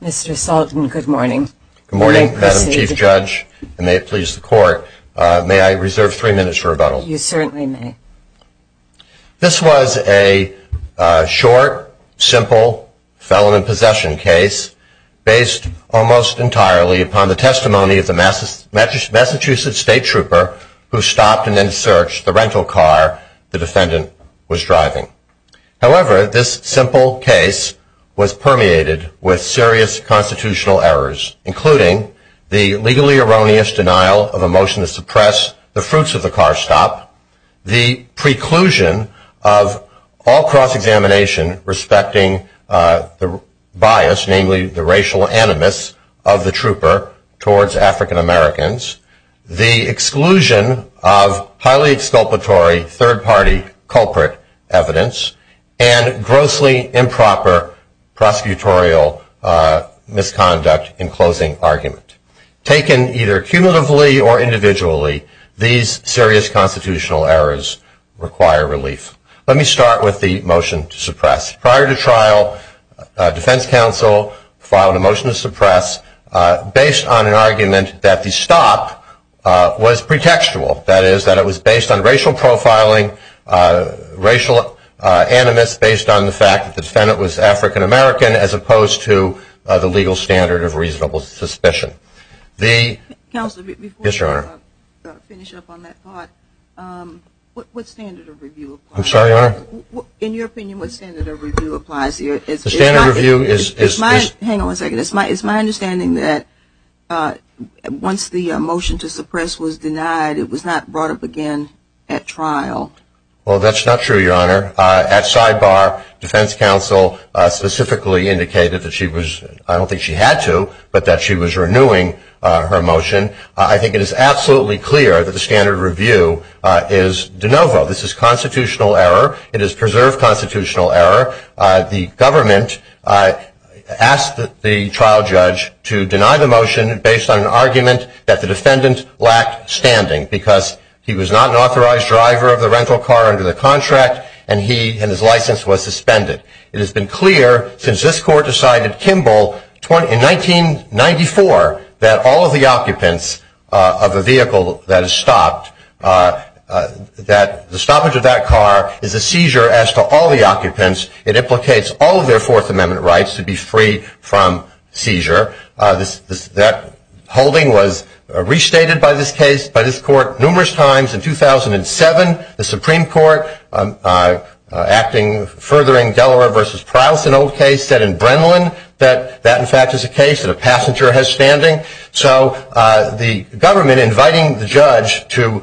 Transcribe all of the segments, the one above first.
Good morning, Madam Chief Judge, and may it please the Court, may I reserve three minutes for rebuttal? You certainly may. This was a short, simple, felon in possession case based almost entirely upon the testimony of the Massachusetts State Trooper who stopped and then searched the rental car the defendant was driving. However, this simple case was permeated with serious constitutional errors, including the legally erroneous denial of a motion to suppress the fruits of the car stop, the preclusion of all cross-examination respecting the bias, namely the racial animus, of the trooper towards African-Americans, the exclusion of highly exculpatory third-party culprit evidence, and grossly improper prosecutorial misconduct in closing argument. Taken either cumulatively or individually, these serious constitutional errors require relief. Let me start with the motion to suppress. Prior to trial, defense counsel filed a motion to suppress based on an argument that the stop was pretextual. That is, that it was based on racial profiling, racial animus based on the fact that the defendant was African-American as opposed to the legal standard of reasonable suspicion. Counselor, before you finish up on that thought, what standard of review applies? I'm sorry, Your Honor? In your opinion, what standard of review applies here? The standard of review is... Hang on a second. It's my understanding that once the motion to suppress was denied, it was not brought up again at trial. Well, that's not true, Your Honor. At sidebar, defense counsel specifically indicated that she was, I don't think she had to, but that she was renewing her motion. I think it is absolutely clear that the standard of review is de novo. This is constitutional error. It is preserved constitutional error. The government asked the trial judge to deny the motion based on an argument that the defendant lacked standing because he was not an authorized driver of the rental car under the contract, and his license was suspended. It has been clear since this court decided, Kimball, in 1994, that all of the occupants of a vehicle that is stopped, that the stoppage of that car is a seizure as to all the occupants. It implicates all of their Fourth Amendment rights to be free from seizure. That holding was restated by this case, by this court, numerous times. In 2007, the Supreme Court, furthering Dellerer v. Prowse, an old case, said in Brenlin that that, in fact, is a case that a passenger has standing. So the government inviting the judge to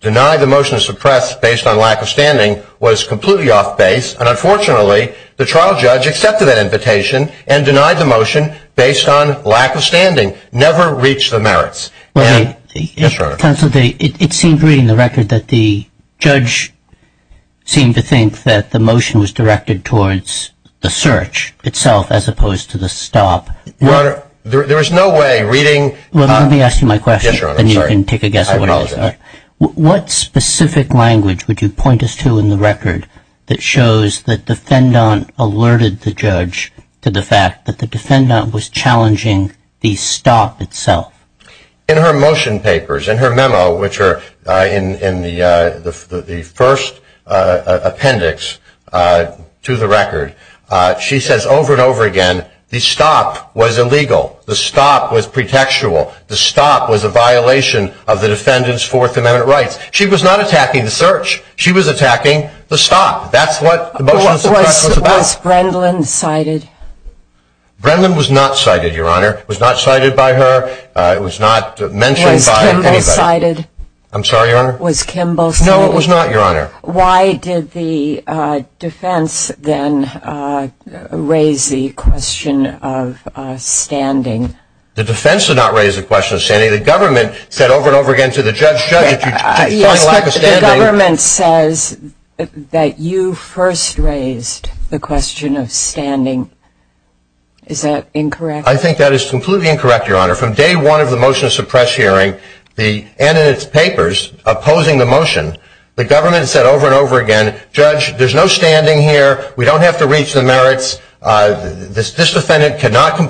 deny the motion to suppress based on lack of standing was completely off base, and unfortunately the trial judge accepted that invitation and denied the motion based on lack of standing. Never reached the merits. Yes, Your Honor. It seems reading the record that the judge seemed to think that the motion was directed towards the search itself as opposed to the stop. Your Honor, there is no way reading... Well, let me ask you my question, then you can take a guess at what it is. I apologize. What specific language would you point us to in the record that shows that the defendant alerted the judge to the fact that the defendant was challenging the stop itself? In her motion papers, in her memo, which are in the first appendix to the record, she says over and over again, the stop was illegal, the stop was pretextual, the stop was a violation of the defendant's Fourth Amendment rights. She was not attacking the search. She was attacking the stop. That's what the motion to suppress was about. Was Brenlin cited? Brenlin was not cited, Your Honor. It was not cited by her. It was not mentioned by anybody. Was Kimball cited? I'm sorry, Your Honor? Was Kimball cited? No, it was not, Your Honor. Why did the defense then raise the question of standing? The defense did not raise the question of standing. The government said over and over again to the judge, Judge, if you find a lack of standing... Yes, but the government says that you first raised the question of standing. Is that incorrect? I think that is completely incorrect, Your Honor. From day one of the motion to suppress hearing and in its papers opposing the motion, the government said over and over again, Judge, there's no standing here. We don't have to reach the merits. This defendant cannot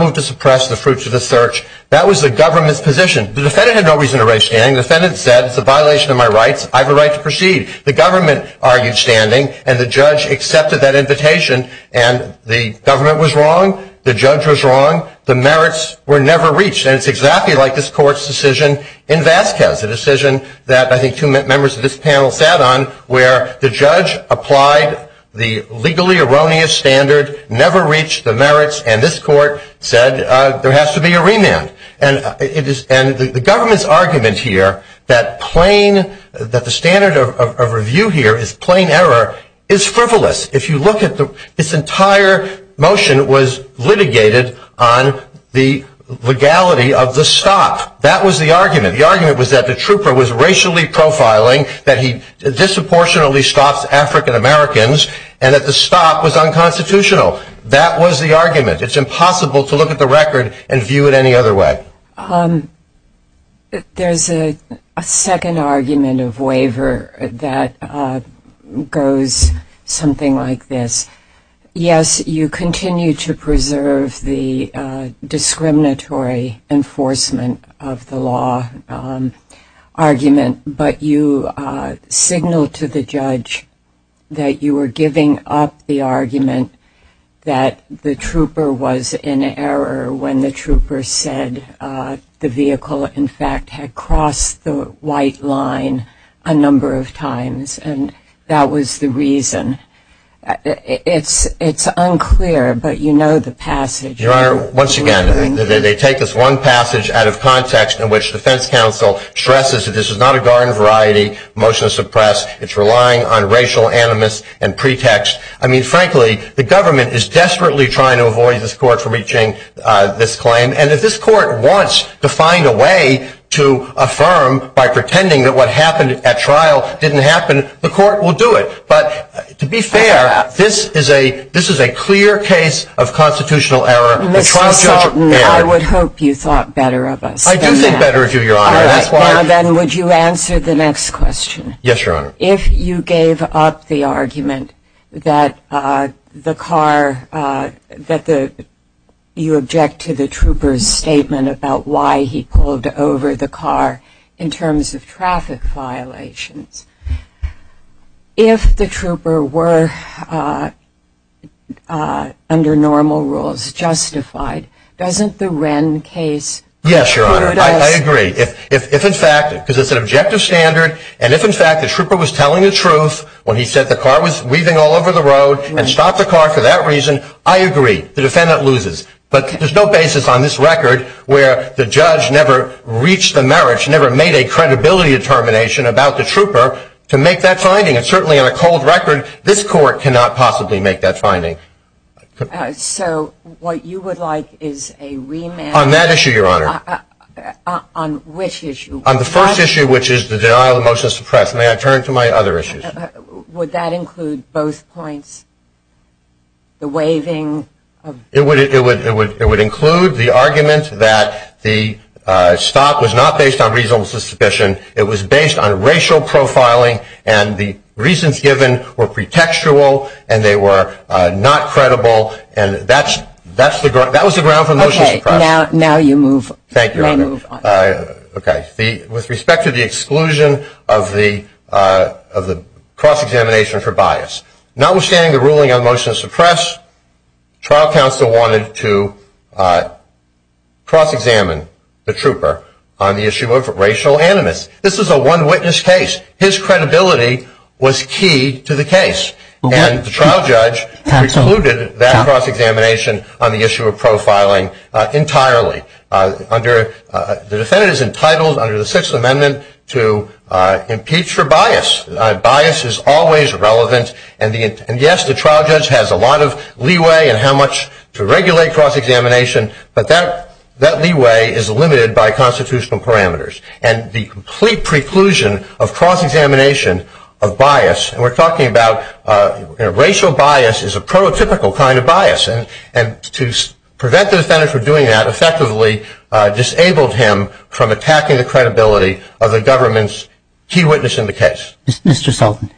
move to suppress the fruits of the search. That was the government's position. The defendant had no reason to raise standing. The defendant said it's a violation of my rights. I have a right to proceed. The government argued standing, and the judge accepted that invitation. And the government was wrong. The judge was wrong. The merits were never reached. And it's exactly like this court's decision in Vasquez, a decision that I think two members of this panel sat on, where the judge applied the legally erroneous standard, never reached the merits, and this court said there has to be a remand. And the government's argument here that the standard of review here is plain error is frivolous. If you look at this entire motion, it was litigated on the legality of the stop. That was the argument. The argument was that the trooper was racially profiling, that he disproportionately stops African Americans, and that the stop was unconstitutional. That was the argument. It's impossible to look at the record and view it any other way. There's a second argument of waiver that goes something like this. Yes, you continue to preserve the discriminatory enforcement of the law argument, but you signal to the judge that you were giving up the argument that the trooper was in error when the trooper said the vehicle, in fact, had crossed the white line a number of times, and that was the reason. It's unclear, but you know the passage. Your Honor, once again, they take this one passage out of context in which defense counsel stresses that this is not a garden variety motion to suppress. It's relying on racial animus and pretext. I mean, frankly, the government is desperately trying to avoid this court from reaching this claim, and if this court wants to find a way to affirm by pretending that what happened at trial didn't happen, the court will do it. But to be fair, this is a clear case of constitutional error. Mr. Sautin, I would hope you thought better of us than that. I do think better of you, Your Honor. All right. Now then, would you answer the next question? Yes, Your Honor. If you gave up the argument that you object to the trooper's statement about why he pulled over the car in terms of traffic violations, if the trooper were, under normal rules, justified, doesn't the Wren case include us? Yes, Your Honor. I agree. If, in fact, because it's an objective standard, and if, in fact, the trooper was telling the truth when he said the car was weaving all over the road and stopped the car for that reason, I agree. The defendant loses. But there's no basis on this record where the judge never reached the merits, never made a credibility determination about the trooper to make that finding. And certainly on a cold record, this court cannot possibly make that finding. So what you would like is a remand? On that issue, Your Honor. On which issue? On the first issue, which is the denial of the motion to suppress. May I turn to my other issues? Would that include both points? The waving? It would include the argument that the stop was not based on reasonable suspicion. It was based on racial profiling, and the reasons given were pretextual, and they were not credible. And that was the ground for motion to suppress. Now you move on. Thank you, Your Honor. Okay. With respect to the exclusion of the cross-examination for bias. Notwithstanding the ruling on motion to suppress, trial counsel wanted to cross-examine the trooper on the issue of racial animus. This is a one-witness case. His credibility was key to the case. And the trial judge excluded that cross-examination on the issue of profiling entirely. The defendant is entitled under the Sixth Amendment to impeach for bias. Bias is always relevant. And, yes, the trial judge has a lot of leeway in how much to regulate cross-examination, but that leeway is limited by constitutional parameters. And the complete preclusion of cross-examination of bias, and we're talking about racial bias, is a prototypical kind of bias. And to prevent the defendant from doing that, disabled him from attacking the credibility of the government's key witness in the case. Mr. Sultan,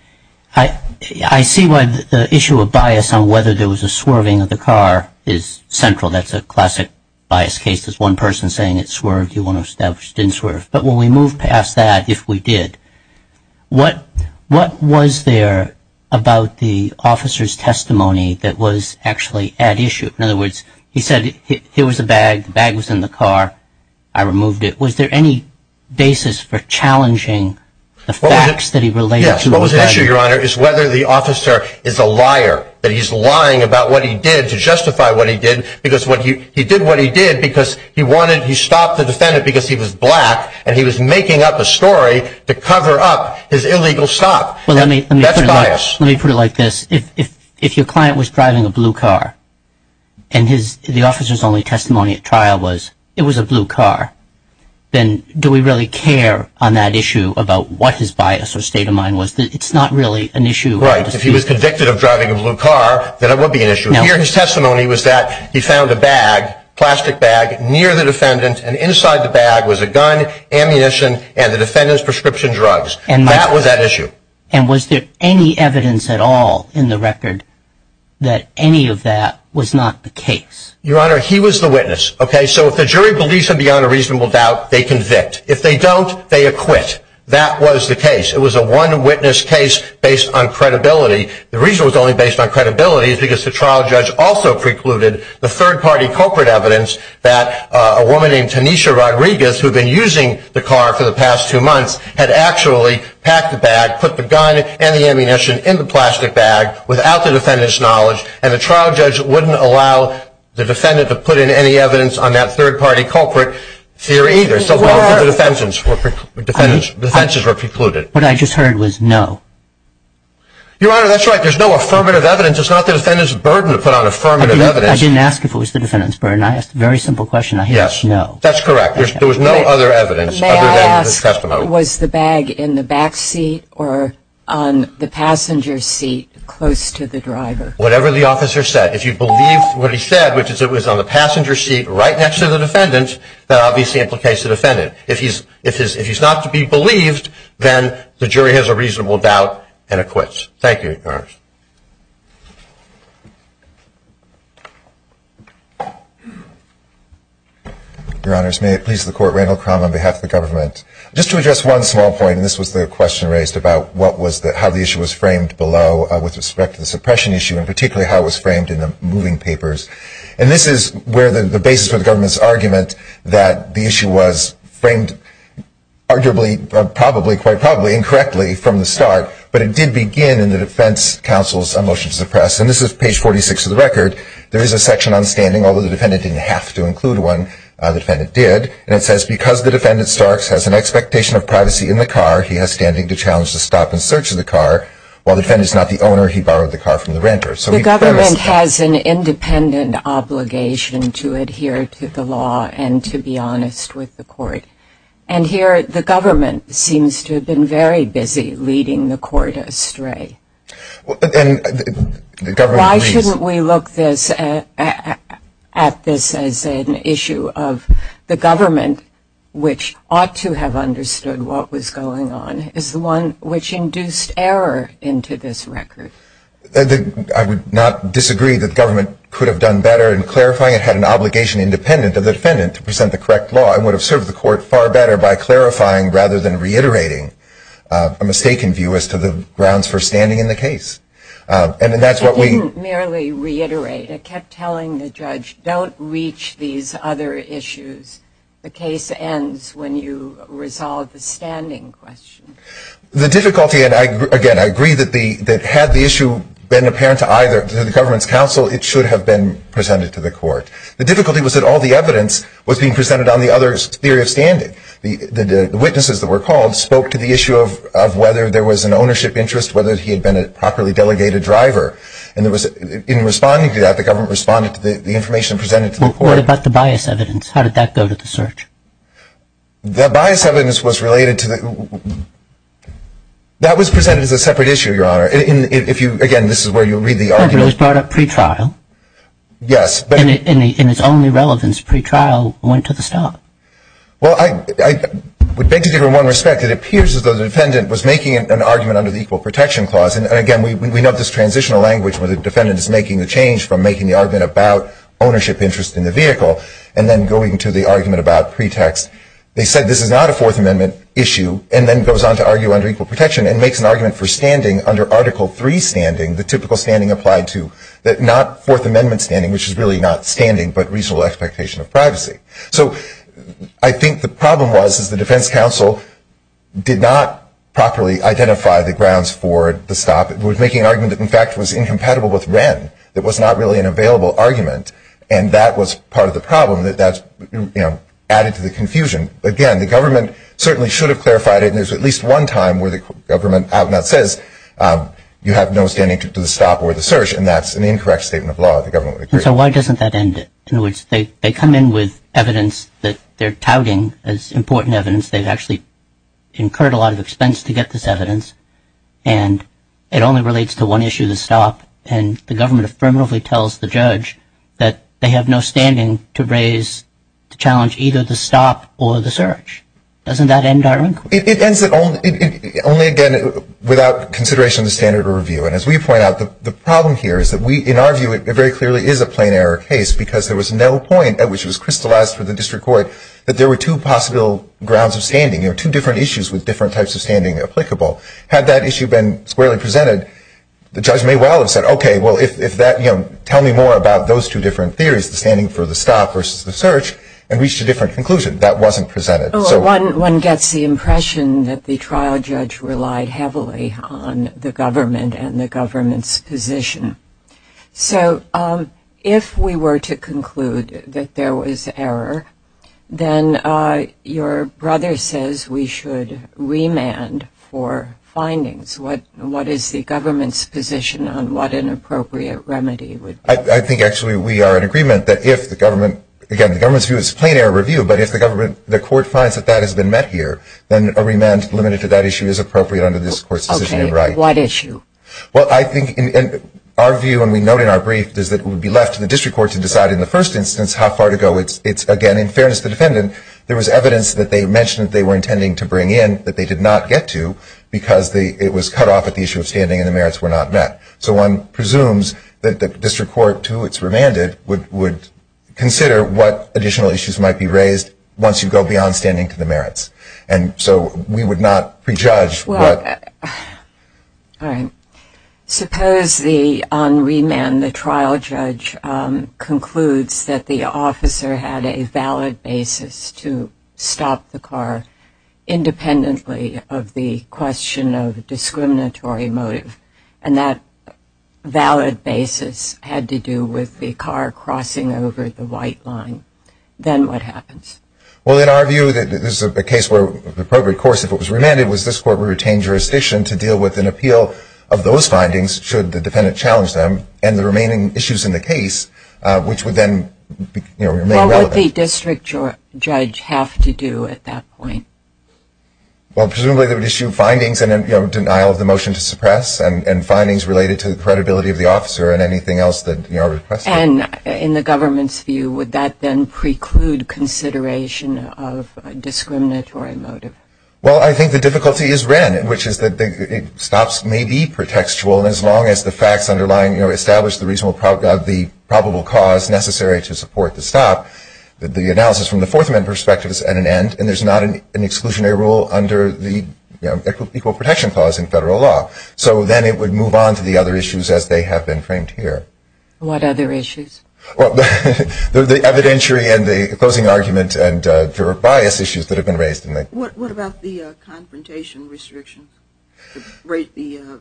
I see why the issue of bias on whether there was a swerving of the car is central. That's a classic bias case. There's one person saying it swerved, you want to establish it didn't swerve. But when we move past that, if we did, what was there about the officer's testimony that was actually at issue? In other words, he said here was a bag, the bag was in the car, I removed it. Was there any basis for challenging the facts that he related to? Yes, what was at issue, Your Honor, is whether the officer is a liar, that he's lying about what he did to justify what he did, because he did what he did because he wanted, he stopped the defendant because he was black, and he was making up a story to cover up his illegal stop. That's bias. Let me put it like this, if your client was driving a blue car, and the officer's only testimony at trial was it was a blue car, then do we really care on that issue about what his bias or state of mind was? It's not really an issue. Right, if he was convicted of driving a blue car, then it would be an issue. Here his testimony was that he found a bag, plastic bag, near the defendant, and inside the bag was a gun, ammunition, and the defendant's prescription drugs. That was at issue. And was there any evidence at all in the record that any of that was not the case? Your Honor, he was the witness. Okay, so if the jury believes him beyond a reasonable doubt, they convict. If they don't, they acquit. That was the case. It was a one-witness case based on credibility. The reason it was only based on credibility is because the trial judge also precluded the third-party corporate evidence that a woman named Tanisha Rodriguez, who had been using the car for the past two months, had actually packed the bag, put the gun and the ammunition in the plastic bag without the defendant's knowledge, and the trial judge wouldn't allow the defendant to put in any evidence on that third-party culprit theory either. So both of the defenses were precluded. What I just heard was no. Your Honor, that's right. There's no affirmative evidence. It's not the defendant's burden to put on affirmative evidence. I didn't ask if it was the defendant's burden. I asked a very simple question. I hear it's no. That's correct. There was no other evidence other than the testimony. May I ask, was the bag in the back seat or on the passenger seat close to the driver? Whatever the officer said. If you believe what he said, which is it was on the passenger seat right next to the defendant, that obviously implicates the defendant. If he's not to be believed, then the jury has a reasonable doubt and acquits. Thank you, Your Honor. Your Honors, may it please the Court, Randall Crum on behalf of the government. Just to address one small point, and this was the question raised about how the issue was framed below with respect to the suppression issue, and particularly how it was framed in the moving papers. And this is where the basis for the government's argument that the issue was framed arguably, probably, quite probably, incorrectly from the start, but it did begin in the defense case. And this is page 46 of the record. There is a section on standing, although the defendant didn't have to include one. The defendant did. And it says, because the defendant, Starks, has an expectation of privacy in the car, he has standing to challenge the stop and search of the car. While the defendant is not the owner, he borrowed the car from the renter. The government has an independent obligation to adhere to the law and to be honest with the court. And here, the government seems to have been very busy leading the court astray. Why shouldn't we look at this as an issue of the government, which ought to have understood what was going on, is the one which induced error into this record? I would not disagree that the government could have done better in clarifying. It had an obligation independent of the defendant to present the correct law and would have served the court far better by clarifying rather than reiterating a mistaken view as to the grounds for standing in the case. It didn't merely reiterate. It kept telling the judge, don't reach these other issues. The case ends when you resolve the standing question. The difficulty, and again, I agree that had the issue been apparent to either, to the government's counsel, it should have been presented to the court. The difficulty was that all the evidence was being presented on the other's theory of standing. The witnesses that were called spoke to the issue of whether there was an ownership interest, whether he had been a properly delegated driver. In responding to that, the government responded to the information presented to the court. What about the bias evidence? How did that go to the search? The bias evidence was related to the – that was presented as a separate issue, Your Honor. Again, this is where you read the argument. It was brought up pre-trial. Yes. In its own irrelevance, pre-trial went to the stop. Well, I would beg to differ in one respect. It appears as though the defendant was making an argument under the Equal Protection Clause. And, again, we know this transitional language where the defendant is making the change from making the argument about ownership interest in the vehicle and then going to the argument about pretext. They said this is not a Fourth Amendment issue and then goes on to argue under Equal Protection and makes an argument for standing under Article III standing, the typical standing applied to not Fourth Amendment standing, which is really not standing but reasonable expectation of privacy. So I think the problem was is the defense counsel did not properly identify the grounds for the stop. It was making an argument that, in fact, was incompatible with Wren. It was not really an available argument, and that was part of the problem. That's, you know, added to the confusion. Again, the government certainly should have clarified it, and there's at least one time where the government says you have no standing to the stop or the search, and that's an incorrect statement of law if the government would agree. So why doesn't that end it? In other words, they come in with evidence that they're touting as important evidence. They've actually incurred a lot of expense to get this evidence, and it only relates to one issue, the stop, and the government affirmatively tells the judge that they have no standing to raise the challenge, either the stop or the search. Doesn't that end our inquiry? It ends it only, again, without consideration of the standard of review, and as we point out, the problem here is that we, in our view, it very clearly is a plain error case because there was no point at which it was crystallized for the district court that there were two possible grounds of standing, you know, two different issues with different types of standing applicable. Had that issue been squarely presented, the judge may well have said, okay, well, if that, you know, tell me more about those two different theories, the standing for the stop versus the search, and reached a different conclusion. That wasn't presented. One gets the impression that the trial judge relied heavily on the government and the government's position. So if we were to conclude that there was error, then your brother says we should remand for findings. What is the government's position on what an appropriate remedy would be? I think, actually, we are in agreement that if the government, again, the government's view is plain error review, but if the government, the court finds that that has been met here, then a remand limited to that issue is appropriate under this court's decision and right. On what issue? Well, I think our view, and we note in our brief, is that it would be left to the district court to decide in the first instance how far to go. It's, again, in fairness to the defendant, there was evidence that they mentioned they were intending to bring in that they did not get to because it was cut off at the issue of standing and the merits were not met. So one presumes that the district court, to whom it's remanded, would consider what additional issues might be raised once you go beyond standing to the merits. And so we would not prejudge. Well, all right. Suppose on remand the trial judge concludes that the officer had a valid basis to stop the car, independently of the question of discriminatory motive, and that valid basis had to do with the car crossing over the white line. Then what happens? Well, in our view, this is a case where the appropriate course, if it was remanded, was this court would retain jurisdiction to deal with an appeal of those findings, should the defendant challenge them, and the remaining issues in the case, which would then remain relevant. Well, what would the district judge have to do at that point? Well, presumably they would issue findings and denial of the motion to suppress and findings related to the credibility of the officer and anything else that we are requesting. And in the government's view, would that then preclude consideration of a discriminatory motive? Well, I think the difficulty is ran, which is that stops may be pretextual as long as the facts underlying or establish the probable cause necessary to support the stop. The analysis from the Fourth Amendment perspective is at an end, and there's not an exclusionary rule under the Equal Protection Clause in federal law. So then it would move on to the other issues as they have been framed here. What other issues? Well, the evidentiary and the closing argument and the bias issues that have been raised. What about the confrontation restrictions, the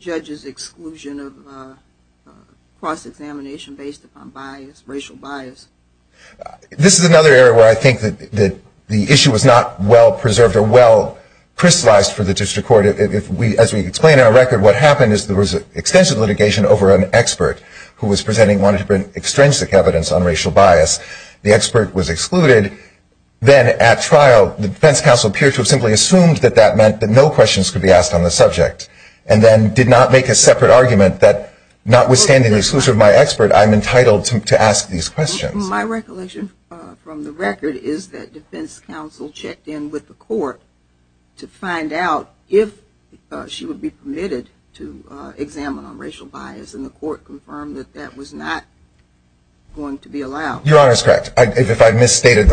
judge's exclusion of cross-examination based upon bias, racial bias? This is another area where I think that the issue is not well-preserved or well-crystallized for the district court. As we explain in our record, what happened is there was extensive litigation over an expert who was presenting one different extrinsic evidence on racial bias. The expert was excluded. Then at trial, the defense counsel appeared to have simply assumed that that meant that no questions could be asked on the subject and then did not make a separate argument that notwithstanding the exclusion of my expert, I'm entitled to ask these questions. My recollection from the record is that defense counsel checked in with the court to find out if she would be permitted to examine on racial bias, and the court confirmed that that was not going to be allowed. Your Honor is correct. If I misstated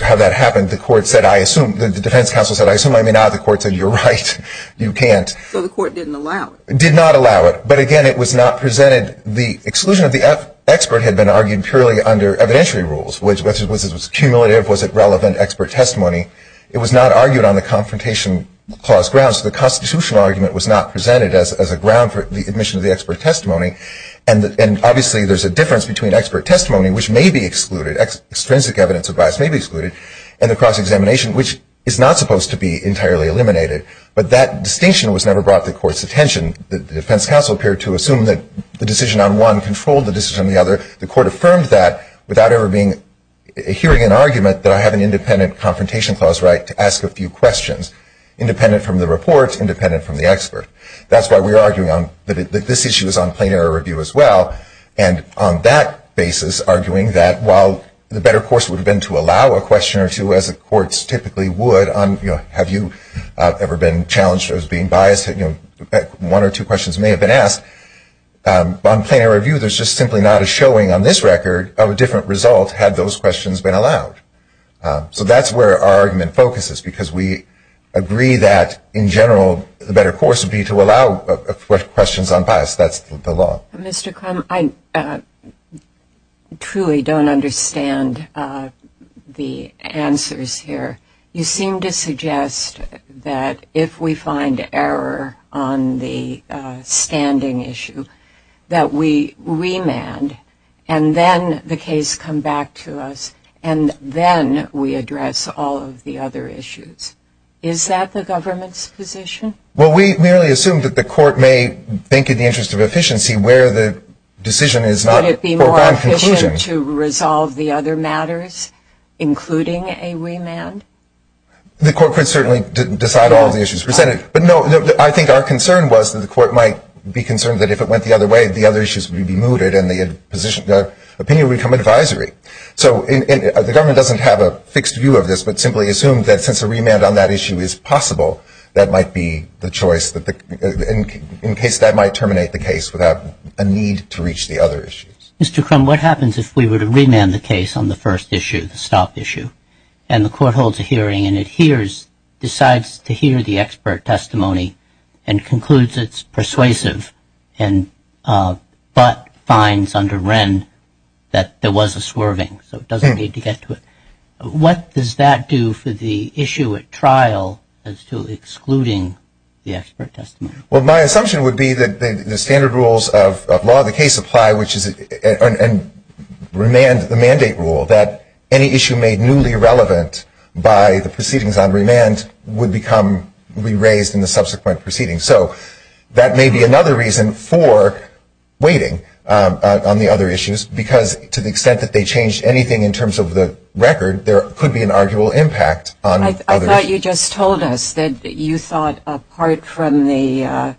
how that happened, the defense counsel said, I assume I may not. The court said, you're right. You can't. So the court didn't allow it. Did not allow it. But again, it was not presented. The exclusion of the expert had been argued purely under evidentiary rules, whether it was cumulative, was it relevant expert testimony. It was not argued on the confrontation clause grounds. The constitutional argument was not presented as a ground for the admission of the expert testimony. And obviously, there's a difference between expert testimony, which may be excluded, extrinsic evidence of bias may be excluded, and the cross-examination, which is not supposed to be entirely eliminated. But that distinction was never brought to the court's attention. The defense counsel appeared to assume that the decision on one controlled the decision on the other. The court affirmed that without ever hearing an argument that I have an independent confrontation clause right to ask a few questions, independent from the report, independent from the expert. That's why we're arguing that this issue is on plain error review as well. And on that basis, arguing that while the better course would have been to allow a question or two, as the courts typically would on, you know, I've never been challenged as being biased. You know, one or two questions may have been asked. On plain error review, there's just simply not a showing on this record of a different result, had those questions been allowed. So that's where our argument focuses, because we agree that, in general, the better course would be to allow questions unbiased. That's the law. Mr. Crum, I truly don't understand the answers here. You seem to suggest that if we find error on the standing issue, that we remand, and then the case come back to us, and then we address all of the other issues. Is that the government's position? Well, we merely assume that the court may think in the interest of efficiency where the decision is not a foregone conclusion. Would it be more efficient to resolve the other matters, including a remand? The court could certainly decide all the issues presented. But, no, I think our concern was that the court might be concerned that if it went the other way, the other issues would be mooted, and the opinion would become advisory. So the government doesn't have a fixed view of this, but simply assumes that since a remand on that issue is possible, that might be the choice in case that might terminate the case without a need to reach the other issues. Mr. Crum, what happens if we were to remand the case on the first issue, the stop issue, and the court holds a hearing and it decides to hear the expert testimony and concludes it's persuasive but finds under Wren that there was a swerving, so it doesn't need to get to it? What does that do for the issue at trial as to excluding the expert testimony? Well, my assumption would be that the standard rules of law of the case apply, and remand the mandate rule, that any issue made newly relevant by the proceedings on remand would be raised in the subsequent proceedings. So that may be another reason for waiting on the other issues, because to the extent that they changed anything in terms of the record, there could be an arguable impact on others. I thought you just told us that you thought apart from the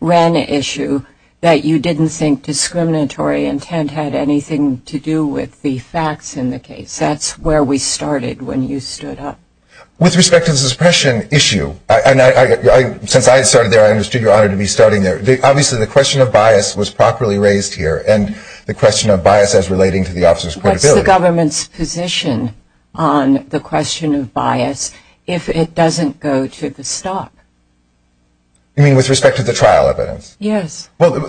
Wren issue that you didn't think discriminatory intent had anything to do with the facts in the case. That's where we started when you stood up. With respect to the suppression issue, since I started there, I understood your honor to be starting there. Obviously the question of bias was properly raised here, and the question of bias as relating to the officer's credibility. What's the government's position on the question of bias if it doesn't go to the stop? You mean with respect to the trial evidence? Yes. Well,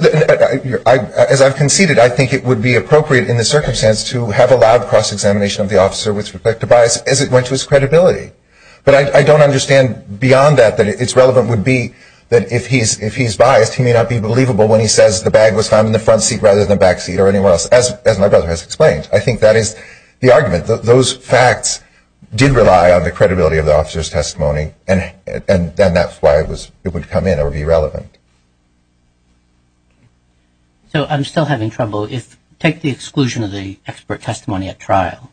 as I've conceded, I think it would be appropriate in the circumstance to have allowed cross-examination of the officer with respect to bias as it went to his credibility. But I don't understand beyond that that it's relevant would be that if he's biased, he may not be believable when he says the bag was found in the front seat rather than the back seat or anywhere else, as my brother has explained. I think that is the argument. Those facts did rely on the credibility of the officer's testimony, and that's why it would come in or be relevant. So I'm still having trouble. Take the exclusion of the expert testimony at trial.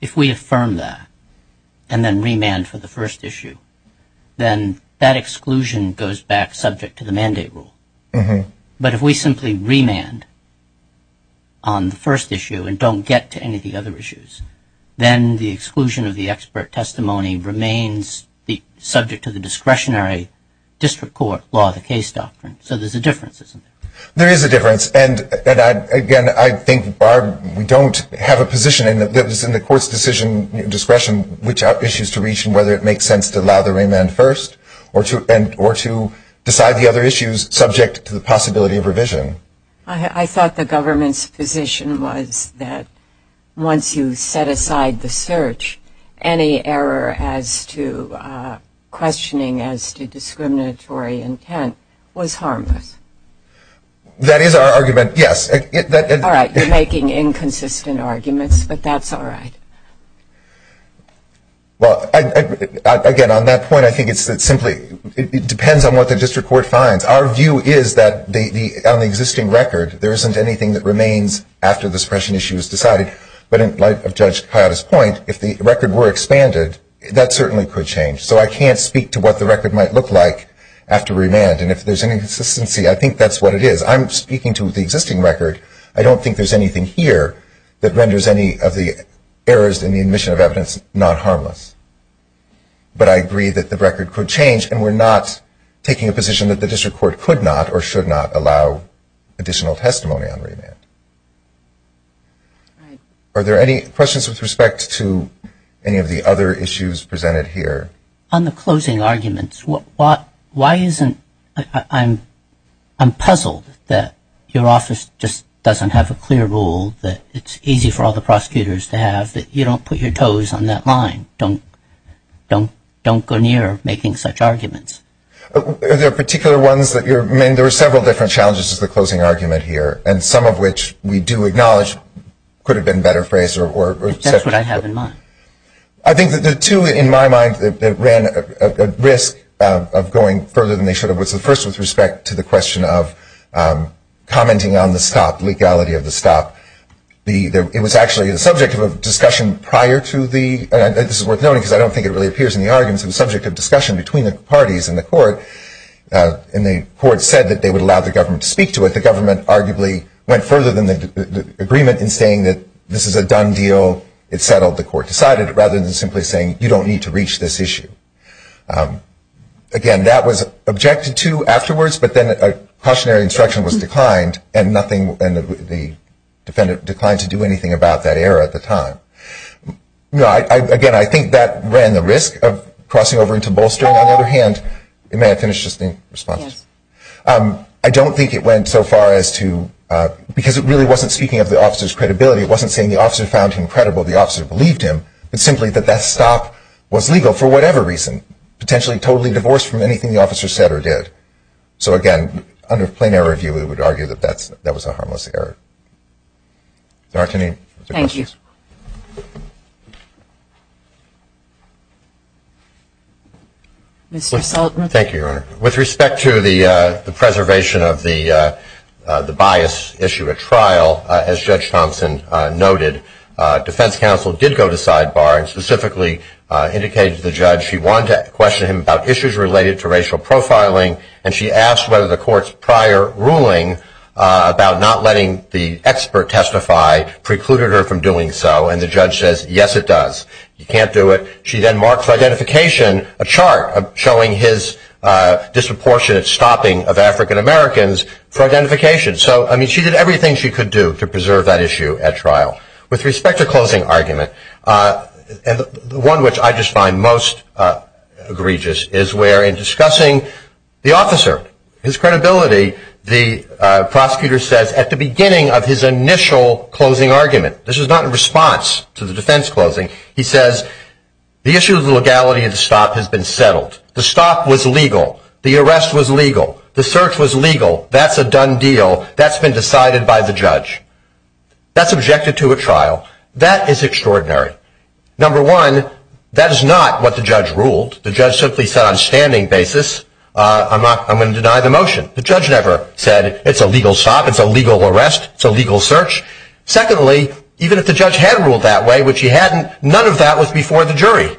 If we affirm that and then remand for the first issue, then that exclusion goes back subject to the mandate rule. But if we simply remand on the first issue and don't get to any of the other issues, then the exclusion of the expert testimony remains subject to the discretionary district court law, the case doctrine. So there's a difference, isn't there? There is a difference. And, again, I think, Barb, we don't have a position in the court's decision discretion which issues to reach and whether it makes sense to allow the remand first or to decide the other issues subject to the possibility of revision. I thought the government's position was that once you set aside the search, any error as to questioning as to discriminatory intent was harmless. That is our argument, yes. All right, you're making inconsistent arguments, but that's all right. Well, again, on that point, I think it simply depends on what the district court finds. Our view is that on the existing record, there isn't anything that remains after the suppression issue is decided. But in light of Judge Coyote's point, if the record were expanded, that certainly could change. So I can't speak to what the record might look like after remand. And if there's any consistency, I think that's what it is. I'm speaking to the existing record. I don't think there's anything here that renders any of the errors in the admission of evidence not harmless. But I agree that the record could change, and we're not taking a position that the district court could not or should not allow additional testimony on remand. All right. Are there any questions with respect to any of the other issues presented here? On the closing arguments, why isn't ‑‑ I'm puzzled that your office just doesn't have a clear rule that it's easy for all the prosecutors to have, that you don't put your toes on that line, don't go near making such arguments. Are there particular ones that you're ‑‑ I mean, there are several different challenges to the closing argument here, and some of which we do acknowledge could have been better phrased or said ‑‑ That's what I have in mind. I think that the two in my mind that ran at risk of going further than they should have was the first with respect to the question of commenting on the stop, legality of the stop. It was actually the subject of a discussion prior to the ‑‑ and this is worth noting because I don't think it really appears in the arguments. It was the subject of discussion between the parties in the court, and the court said that they would allow the government to speak to it. The government arguably went further than the agreement in saying that this is a done deal, it's settled, the court decided, rather than simply saying you don't need to reach this issue. Again, that was objected to afterwards, but then a cautionary instruction was declined, and nothing ‑‑ the defendant declined to do anything about that error at the time. Again, I think that ran the risk of crossing over into bolstering. On the other hand, may I finish just in response? I don't think it went so far as to ‑‑ because it really wasn't speaking of the officer's credibility, it wasn't saying the officer found him credible, the officer believed him, but simply that that stop was legal for whatever reason, potentially totally divorced from anything the officer said or did. So again, under a plain error view, we would argue that that was a harmless error. There aren't any other questions? Thank you. Mr. Sultan. Thank you, Your Honor. With respect to the preservation of the bias issue at trial, as Judge Thompson noted, defense counsel did go to sidebar and specifically indicated to the judge she wanted to question him about issues related to racial profiling, and she asked whether the court's prior ruling about not letting the expert testify precluded her from doing so, and the judge says, yes, it does. You can't do it. She then marks for identification a chart showing his disproportionate stopping of African Americans for identification. So, I mean, she did everything she could do to preserve that issue at trial. With respect to closing argument, the one which I just find most egregious is where in discussing the officer, his credibility, the prosecutor says at the beginning of his initial closing argument, this is not in response to the defense closing, he says the issue of the legality of the stop has been settled. The stop was legal. The arrest was legal. The search was legal. That's a done deal. That's been decided by the judge. That's objected to at trial. That is extraordinary. Number one, that is not what the judge ruled. The judge simply said on a standing basis, I'm going to deny the motion. The judge never said it's a legal stop, it's a legal arrest, it's a legal search. Secondly, even if the judge had ruled that way, which he hadn't, none of that was before the jury.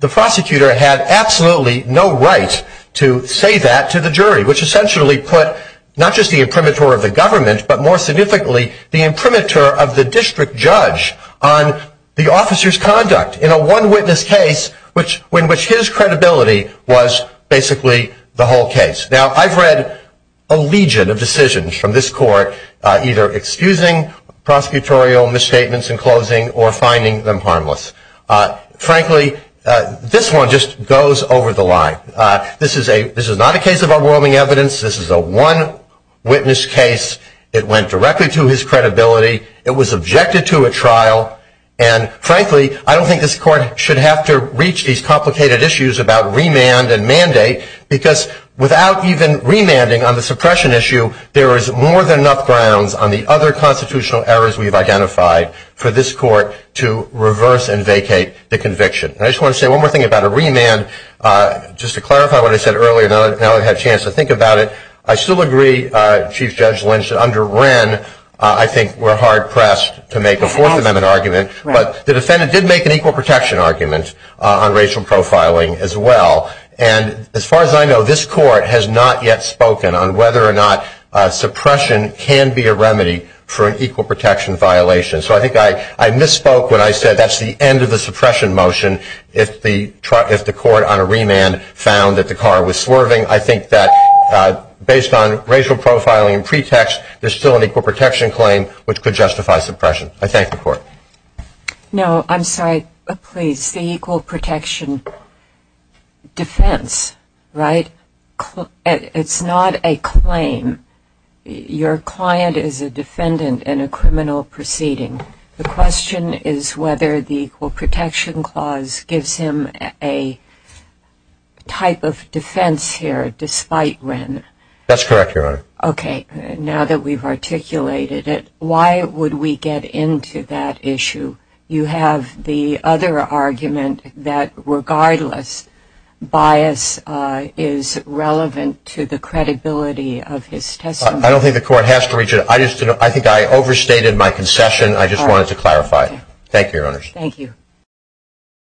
The prosecutor had absolutely no right to say that to the jury, which essentially put not just the imprimatur of the government, but more significantly the imprimatur of the district judge on the officer's conduct in a one witness case in which his credibility was basically the whole case. Now, I've read a legion of decisions from this court either excusing prosecutorial misstatements in closing or finding them harmless. Frankly, this one just goes over the line. This is not a case of overwhelming evidence. This is a one witness case. It went directly to his credibility. It was objected to at trial. And frankly, I don't think this court should have to reach these complicated issues about remand and mandate because without even remanding on the suppression issue, there is more than enough grounds on the other constitutional errors we've identified for this court to reverse and vacate the conviction. And I just want to say one more thing about a remand. Just to clarify what I said earlier, now I've had a chance to think about it. I still agree, Chief Judge Lynch, that under Wren I think we're hard pressed to make a Fourth Amendment argument. But the defendant did make an equal protection argument on racial profiling as well. And as far as I know, this court has not yet spoken on whether or not suppression can be a remedy for an equal protection violation. So I think I misspoke when I said that's the end of the suppression motion if the court on a remand found that the car was swerving. I think that based on racial profiling and pretext, there's still an equal protection claim which could justify suppression. I thank the court. No, I'm sorry. Please, the equal protection defense, right, it's not a claim. Your client is a defendant in a criminal proceeding. The question is whether the equal protection clause gives him a type of defense here despite Wren. That's correct, Your Honor. Okay. Now that we've articulated it, why would we get into that issue? You have the other argument that regardless bias is relevant to the credibility of his testimony. I don't think the court has to reach it. I think I overstated my concession. I just wanted to clarify it. Thank you, Your Honors. Thank you.